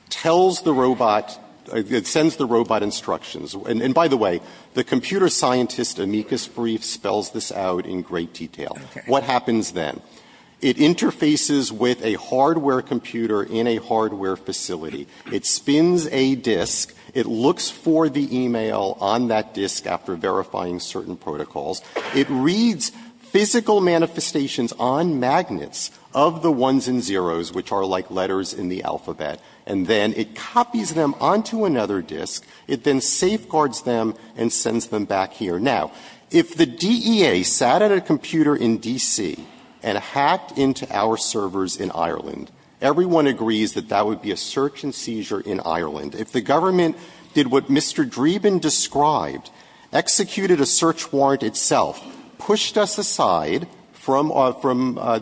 tells the robot – sends the robot instructions. And by the way, the computer scientist, Amicus Brief, spells this out in great detail. What happens then? It interfaces with a hardware computer in a hardware facility. It spins a disk. It looks for the e-mail on that disk after verifying certain protocols. It reads physical manifestations on magnets of the ones and zeroes, which are like letters in the alphabet, and then it copies them onto another disk. It then safeguards them and sends them back here. Now, if the DEA sat at a computer in D.C. and hacked into our servers in Ireland, everyone agrees that that would be a search and seizure in Ireland. If the government did what Mr. Dreeben described, executed a search warrant itself, pushed us aside from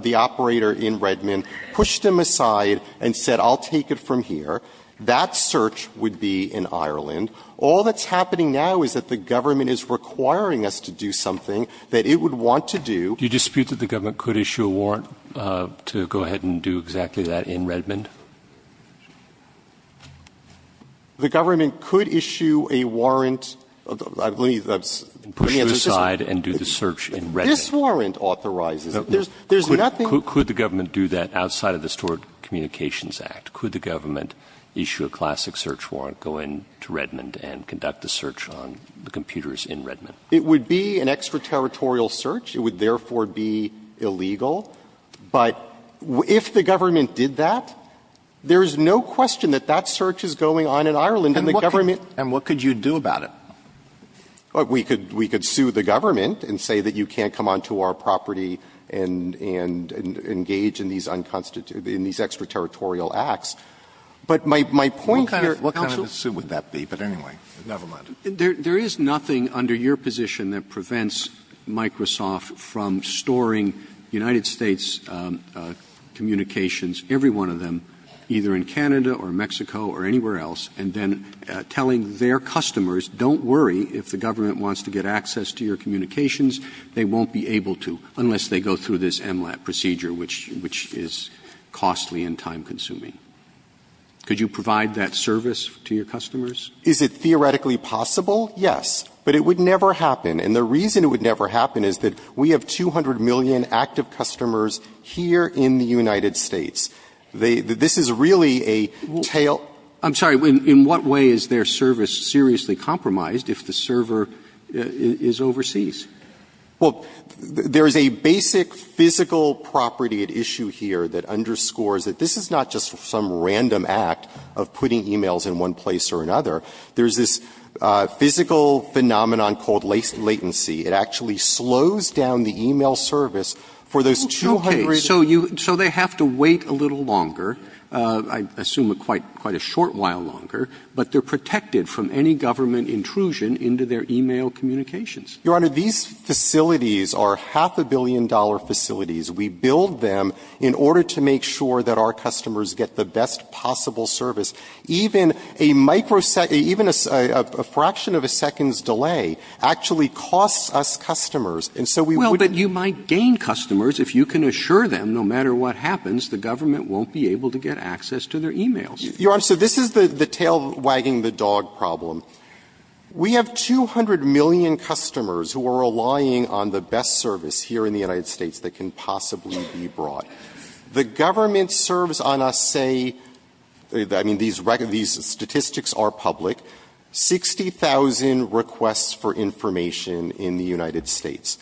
the operator in Redmond, pushed them aside and said, I'll take it from here, that search would be in Ireland. All that's happening now is that the government is requiring us to do something that it would want to do. Roberts. Do you dispute that the government could issue a warrant to go ahead and do exactly that in Redmond? The government could issue a warrant. I believe that's putting it aside and do the search in Redmond. This warrant authorizes it. There's nothing. Could the government do that outside of the Stored Communications Act? Could the government issue a classic search warrant, go in to Redmond and conduct the search on the computers in Redmond? It would be an extraterritorial search. It would therefore be illegal. But if the government did that, there's no question that that search is going on in Ireland, and the government. And what could you do about it? We could sue the government and say that you can't come onto our property and engage in these unconstitutional, in these extraterritorial acts. But my point here, Counsel. What kind of a suit would that be? But anyway, never mind. There is nothing under your position that prevents Microsoft from storing United States communications, every one of them, either in Canada or Mexico or anywhere else, and then telling their customers, don't worry, if the government wants to get access to your communications, they won't be able to unless they go through this MLAT procedure, which is costly and time-consuming. Could you provide that service to your customers? Is it theoretically possible? Yes. But it would never happen. And the reason it would never happen is that we have 200 million active customers here in the United States. This is really a tail ---- I'm sorry. In what way is their service seriously compromised if the server is overseas? Well, there is a basic physical property at issue here that underscores that this is not just some random act of putting e-mails in one place or another. There is this physical phenomenon called latency. It actually slows down the e-mail service for those 200 ---- Okay. So you ---- so they have to wait a little longer, I assume quite a short while longer, but they are protected from any government intrusion into their e-mail communications. Your Honor, these facilities are half a billion dollar facilities. We build them in order to make sure that our customers get the best possible service. Even a microsecond ---- even a fraction of a second's delay actually costs us customers. And so we would ---- Well, but you might gain customers if you can assure them, no matter what happens, the government won't be able to get access to their e-mails. Your Honor, so this is the tail wagging the dog problem. We have 200 million customers who are relying on the best service here in the United States that can possibly be brought. The government serves on a, say, I mean, these statistics are public, 60,000 requests for information in the United States.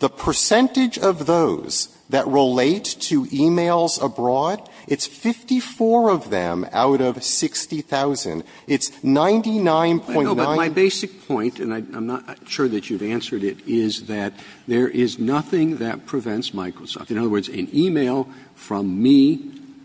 The percentage of those that relate to e-mails abroad, it's 54 of them out of 60,000. It's 99.9 ---- But my basic point, and I'm not sure that you've answered it, is that there is nothing that prevents Microsoft. In other words, an e-mail from me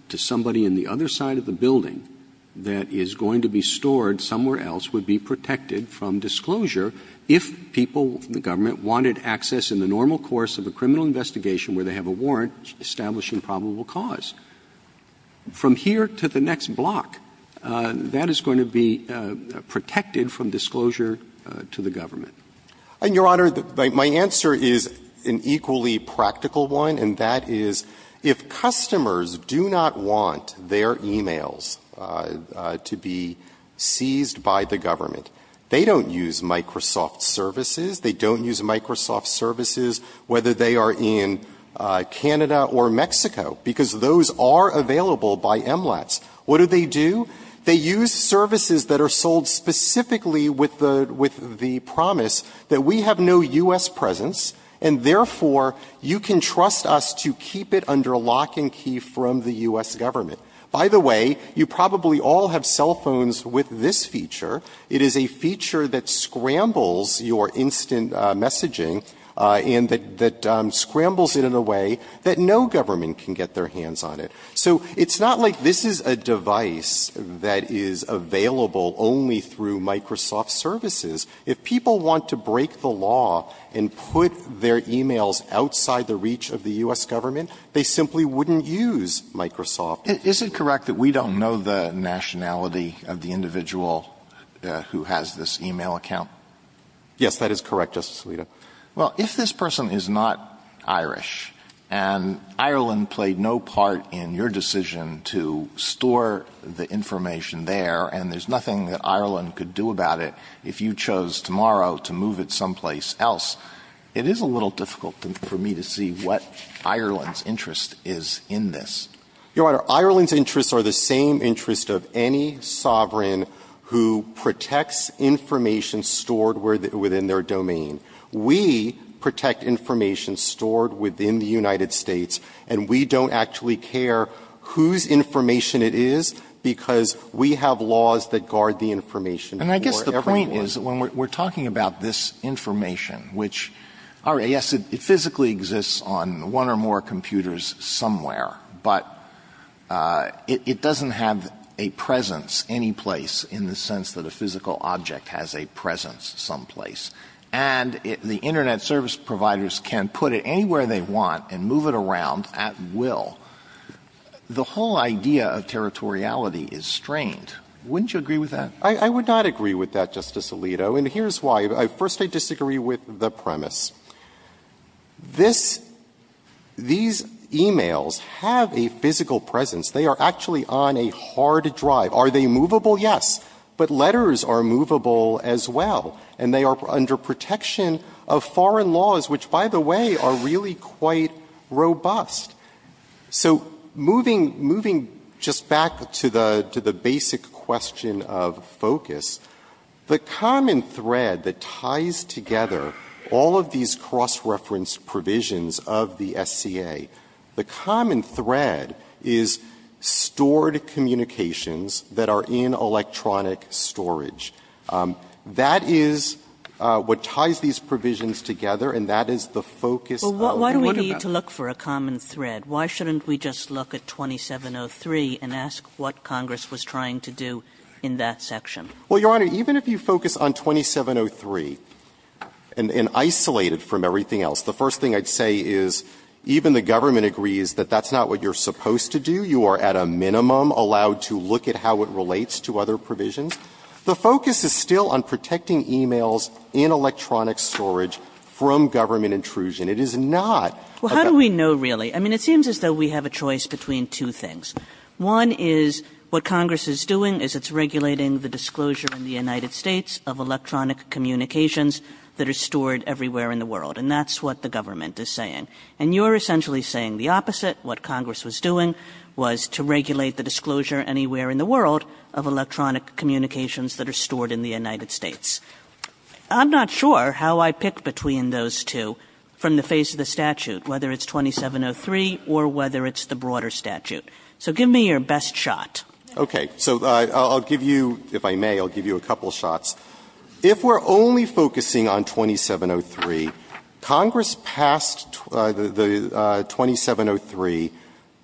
to somebody in the other side of the building that is going to be stored somewhere else would be protected from disclosure if people in the government wanted access in the normal course of a criminal investigation where they have a warrant establishing probable cause. From here to the next block, that is going to be protected from disclosure to the government. And, Your Honor, my answer is an equally practical one, and that is if customers do not want their e-mails to be seized by the government, they don't use Microsoft services. They don't use Microsoft services, whether they are in Canada or Mexico, because those are available by MLATs. What do they do? They use services that are sold specifically with the promise that we have no U.S. presence, and therefore, you can trust us to keep it under lock and key from the U.S. government. By the way, you probably all have cell phones with this feature. It is a feature that scrambles your instant messaging and that scrambles it in a way that no government can get their hands on it. So it's not like this is a device that is available only through Microsoft services. If people want to break the law and put their e-mails outside the reach of the U.S. government, they simply wouldn't use Microsoft. Alito, is it correct that we don't know the nationality of the individual who has this e-mail account? Yes, that is correct, Justice Alito. Well, if this person is not Irish and Ireland played no part in your decision to store the information there and there's nothing that Ireland could do about it if you chose tomorrow to move it someplace else, it is a little difficult for me to see what Ireland's interest is in this. Your Honor, Ireland's interests are the same interest of any sovereign who protects information stored within their domain. We protect information stored within the United States, and we don't actually care whose information it is because we have laws that guard the information for everyone. And I guess the point is, when we're talking about this information, which, all right, yes, it physically exists on one or more computers somewhere, but it doesn't have a presence anyplace in the sense that a physical object has a presence someplace. And the Internet service providers can put it anywhere they want and move it around at will. The whole idea of territoriality is strained. Wouldn't you agree with that? I would not agree with that, Justice Alito. And here's why. First, I disagree with the premise. This — these e-mails have a physical presence. They are actually on a hard drive. Are they movable? Yes. But letters are movable as well, and they are under protection of foreign laws, which, by the way, are really quite robust. So moving — moving just back to the — to the basic question of focus, the common thread that ties together all of these cross-reference provisions of the SCA, the common thread is stored communications that are in electronic storage. That is what ties these provisions together, and that is the focus of the work of SCA. Kagan. Kagan. Well, why do we need to look for a common thread? Why shouldn't we just look at 2703 and ask what Congress was trying to do in that section? Well, Your Honor, even if you focus on 2703 and isolate it from everything else, the first thing I'd say is even the government agrees that that's not what you're supposed to do. You are, at a minimum, allowed to look at how it relates to other provisions. The focus is still on protecting e-mails in electronic storage from government It is not about the other provisions. Well, how do we know, really? I mean, it seems as though we have a choice between two things. One is what Congress is doing is it's regulating the disclosure in the United States of electronic communications that are stored everywhere in the world. And that's what the government is saying. And you're essentially saying the opposite. What Congress was doing was to regulate the disclosure anywhere in the world of electronic communications that are stored in the United States. I'm not sure how I pick between those two from the face of the statute, whether it's 2703 or whether it's the broader statute. So give me your best shot. Okay. So I'll give you, if I may, I'll give you a couple of shots. If we're only focusing on 2703, Congress passed the 2703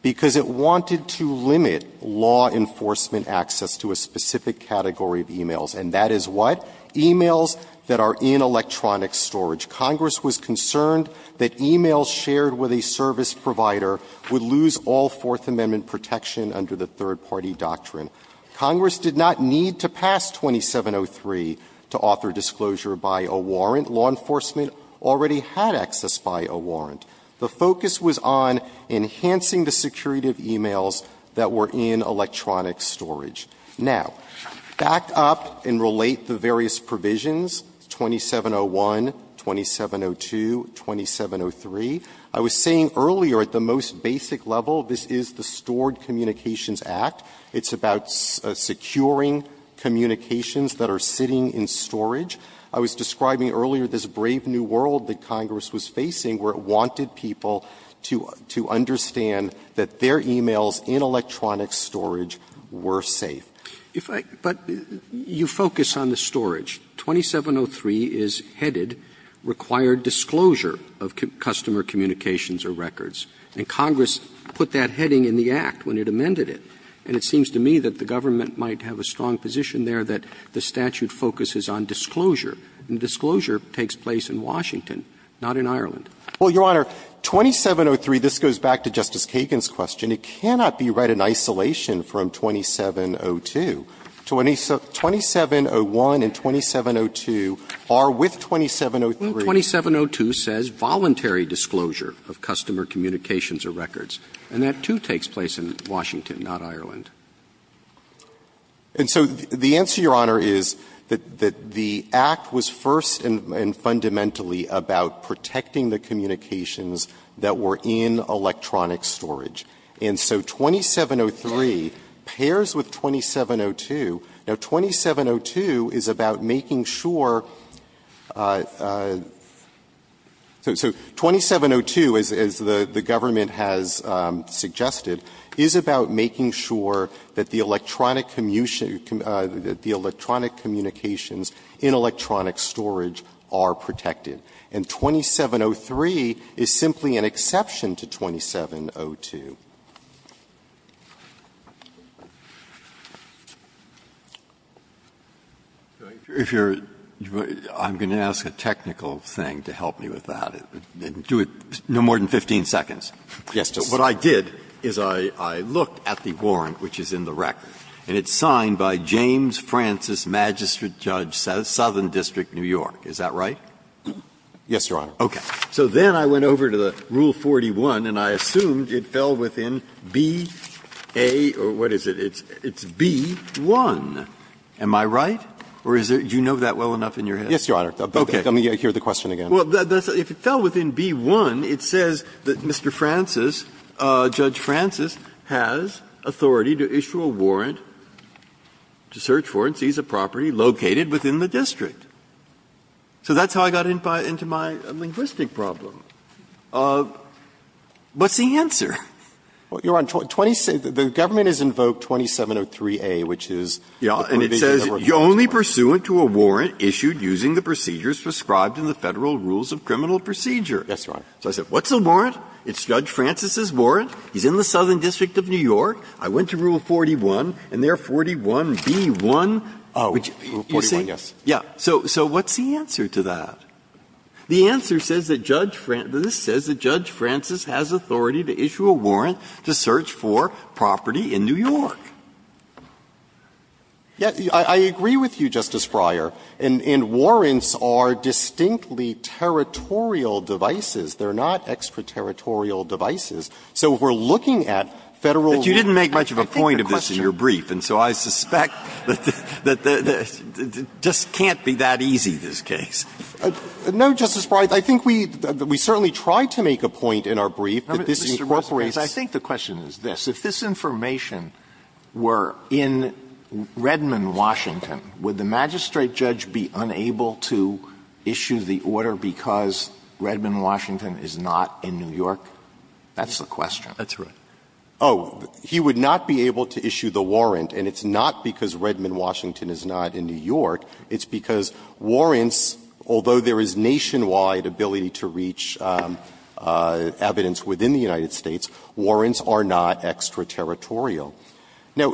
because it wanted to limit law enforcement access to a specific category of e-mails. And that is what? E-mails that are in electronic storage. Congress was concerned that e-mails shared with a service provider would lose all Fourth Amendment protection under the third-party doctrine. Congress did not need to pass 2703 to author disclosure by a warrant. Law enforcement already had access by a warrant. The focus was on enhancing the security of e-mails that were in electronic storage. Now, back up and relate the various provisions, 2701, 2702, 2703. I was saying earlier at the most basic level, this is the Stored Communications Act. It's about securing communications that are sitting in storage. I was describing earlier this brave new world that Congress was facing where it wanted people to understand that their e-mails in electronic storage were safe. If I – but you focus on the storage. 2703 is headed, required disclosure of customer communications or records. And Congress put that heading in the Act when it amended it. And it seems to me that the government might have a strong position there that the statute focuses on disclosure, and disclosure takes place in Washington, not in Ireland. Well, Your Honor, 2703, this goes back to Justice Kagan's question. It cannot be read in isolation from 2702. 2701 and 2702 are with 2703. 2702 says voluntary disclosure of customer communications or records. And that, too, takes place in Washington, not Ireland. And so the answer, Your Honor, is that the Act was first and fundamentally about protecting the communications that were in electronic storage. And so 2703 pairs with 2702. Now, 2702 is about making sure – so 2702, as the government has said, is about making sure that the electronic communications in electronic storage are protected. And 2703 is simply an exception to 2702. Breyer, I'm going to ask a technical thing to help me with that. Do it no more than 15 seconds. What I did is I looked at the warrant, which is in the record, and it's signed by James Francis Magistrate Judge, Southern District, New York. Is that right? Yes, Your Honor. Okay. So then I went over to the Rule 41, and I assumed it fell within B, A, or what is it? It's B, 1. Am I right, or is it – do you know that well enough in your head? Yes, Your Honor. Let me hear the question again. Well, if it fell within B, 1, it says that Mr. Francis, Judge Francis, has authority to issue a warrant, to search for and seize a property located within the district. So that's how I got into my linguistic problem. What's the answer? Well, Your Honor, the government has invoked 2703A, which is the provision that we're talking about. So I said, what's the warrant? It's Judge Francis's warrant. He's in the Southern District of New York. I went to Rule 41, and there are 41B, 1. Oh, Rule 41, yes. Yeah. So what's the answer to that? The answer says that Judge – this says that Judge Francis has authority to issue a warrant to search for property in New York. I agree with you, Justice Breyer, and warrants are distinctly territorial devices. They're not extra-territorial devices. So if we're looking at Federal rules, I think the question is that they're not extra- territorial. Breyer, you didn't make much of a point of this in your brief, and so I suspect that it just can't be that easy, this case. No, Justice Breyer. I think we certainly tried to make a point in our brief that this incorporates I think the question is this. If this information were in Redmond, Washington, would the magistrate judge be unable to issue the order because Redmond, Washington, is not in New York? That's the question. That's right. Oh, he would not be able to issue the warrant, and it's not because Redmond, Washington, is not in New York. It's because warrants, although there is nationwide ability to reach evidence within the United States, warrants are not extra-territorial. Now,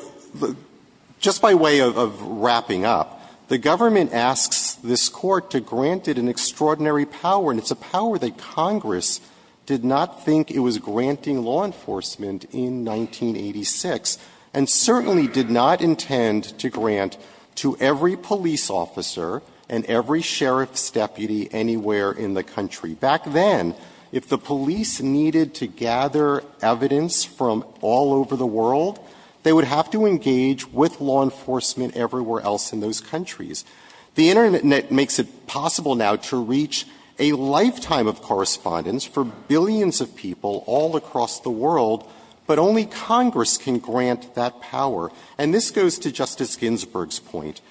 just by way of wrapping up, the government asks this Court to grant it an extraordinary power, and it's a power that Congress did not think it was granting law enforcement in 1986, and certainly did not intend to grant to every police officer and every sheriff's deputy anywhere in the country. Back then, if the police needed to gather evidence from all over the world, they would have to engage with law enforcement everywhere else in those countries. The Internet makes it possible now to reach a lifetime of correspondence for billions of people all across the world, but only Congress can grant that power. And this goes to Justice Ginsburg's point.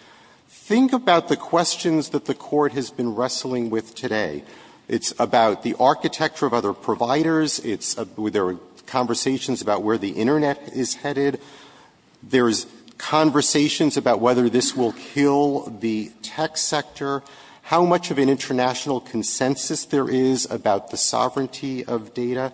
Think about the questions that the Court has been wrestling with today. It's about the architecture of other providers. It's the conversations about where the Internet is headed. There's conversations about whether this will kill the tech sector. How much of an international consensus there is about the sovereignty of data.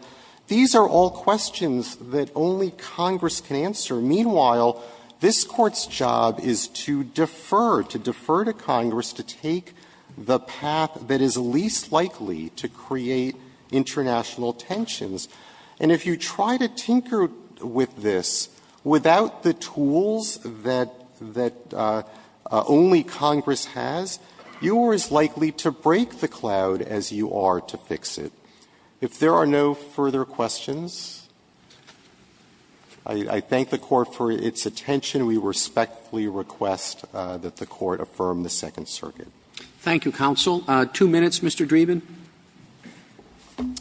These are all questions that only Congress can answer. Meanwhile, this Court's job is to defer, to defer to Congress to take the path that is least likely to create international tensions. And if you try to tinker with this without the tools that only Congress has, you are as likely to break the cloud as you are to fix it. If there are no further questions, I thank the Court for its attention. We respectfully request that the Court affirm the Second Circuit. Roberts. Roberts. Thank you, counsel. Two minutes, Mr. Dreeben. Dreeben.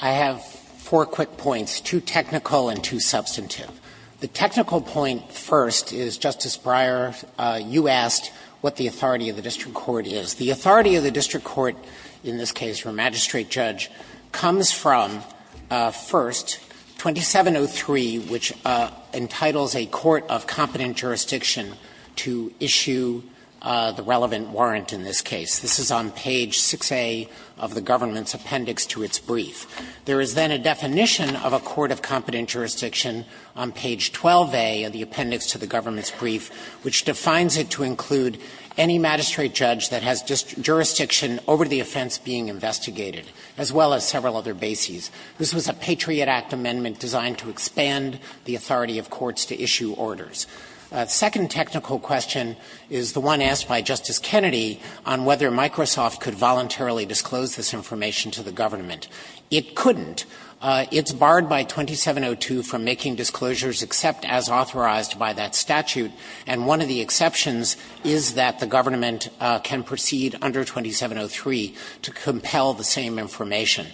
I have four quick points, two technical and two substantive. The technical point first is, Justice Breyer, you asked what the authority of the district court is. The authority of the district court in this case for a magistrate judge comes from, first, 2703, which entitles a court of competent jurisdiction to issue the relevant warrant in this case. This is on page 6A of the government's appendix to its brief. There is then a definition of a court of competent jurisdiction on page 12A of the appendix to the government's brief, which defines it to include any magistrate judge that has jurisdiction over the offense being investigated, as well as several other bases. This was a Patriot Act amendment designed to expand the authority of courts to issue orders. The second technical question is the one asked by Justice Kennedy on whether Microsoft could voluntarily disclose this information to the government. It couldn't. It's barred by 2702 from making disclosures except as authorized by that statute, and one of the exceptions is that the government can proceed under 2703 to compel the same information.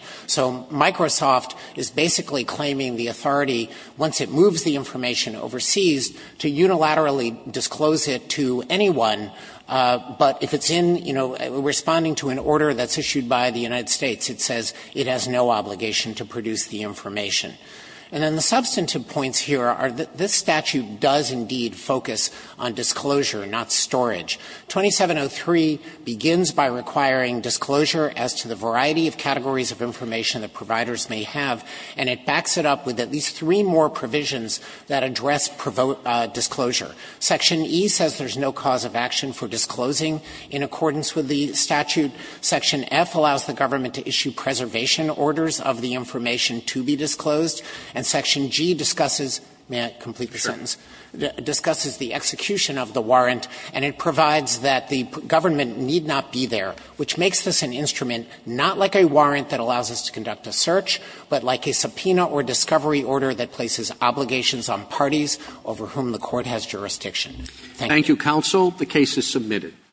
And then the substantive points here are that this statute does indeed focus on disclosure, not storage. 2703 begins by requiring disclosure as to the variety of categories of information that providers may have, and it backs it up with at least three more provisions that address the need for disclosure. Section E says there's no cause of action for disclosing in accordance with the statute. Section F allows the government to issue preservation orders of the information to be disclosed. And Section G discusses the execution of the warrant, and it provides that the government need not be there, which makes this an instrument not like a warrant that allows us to conduct a search, but like a subpoena or discovery order that places obligations on parties over whom the court has jurisdiction. Thank you. Roberts.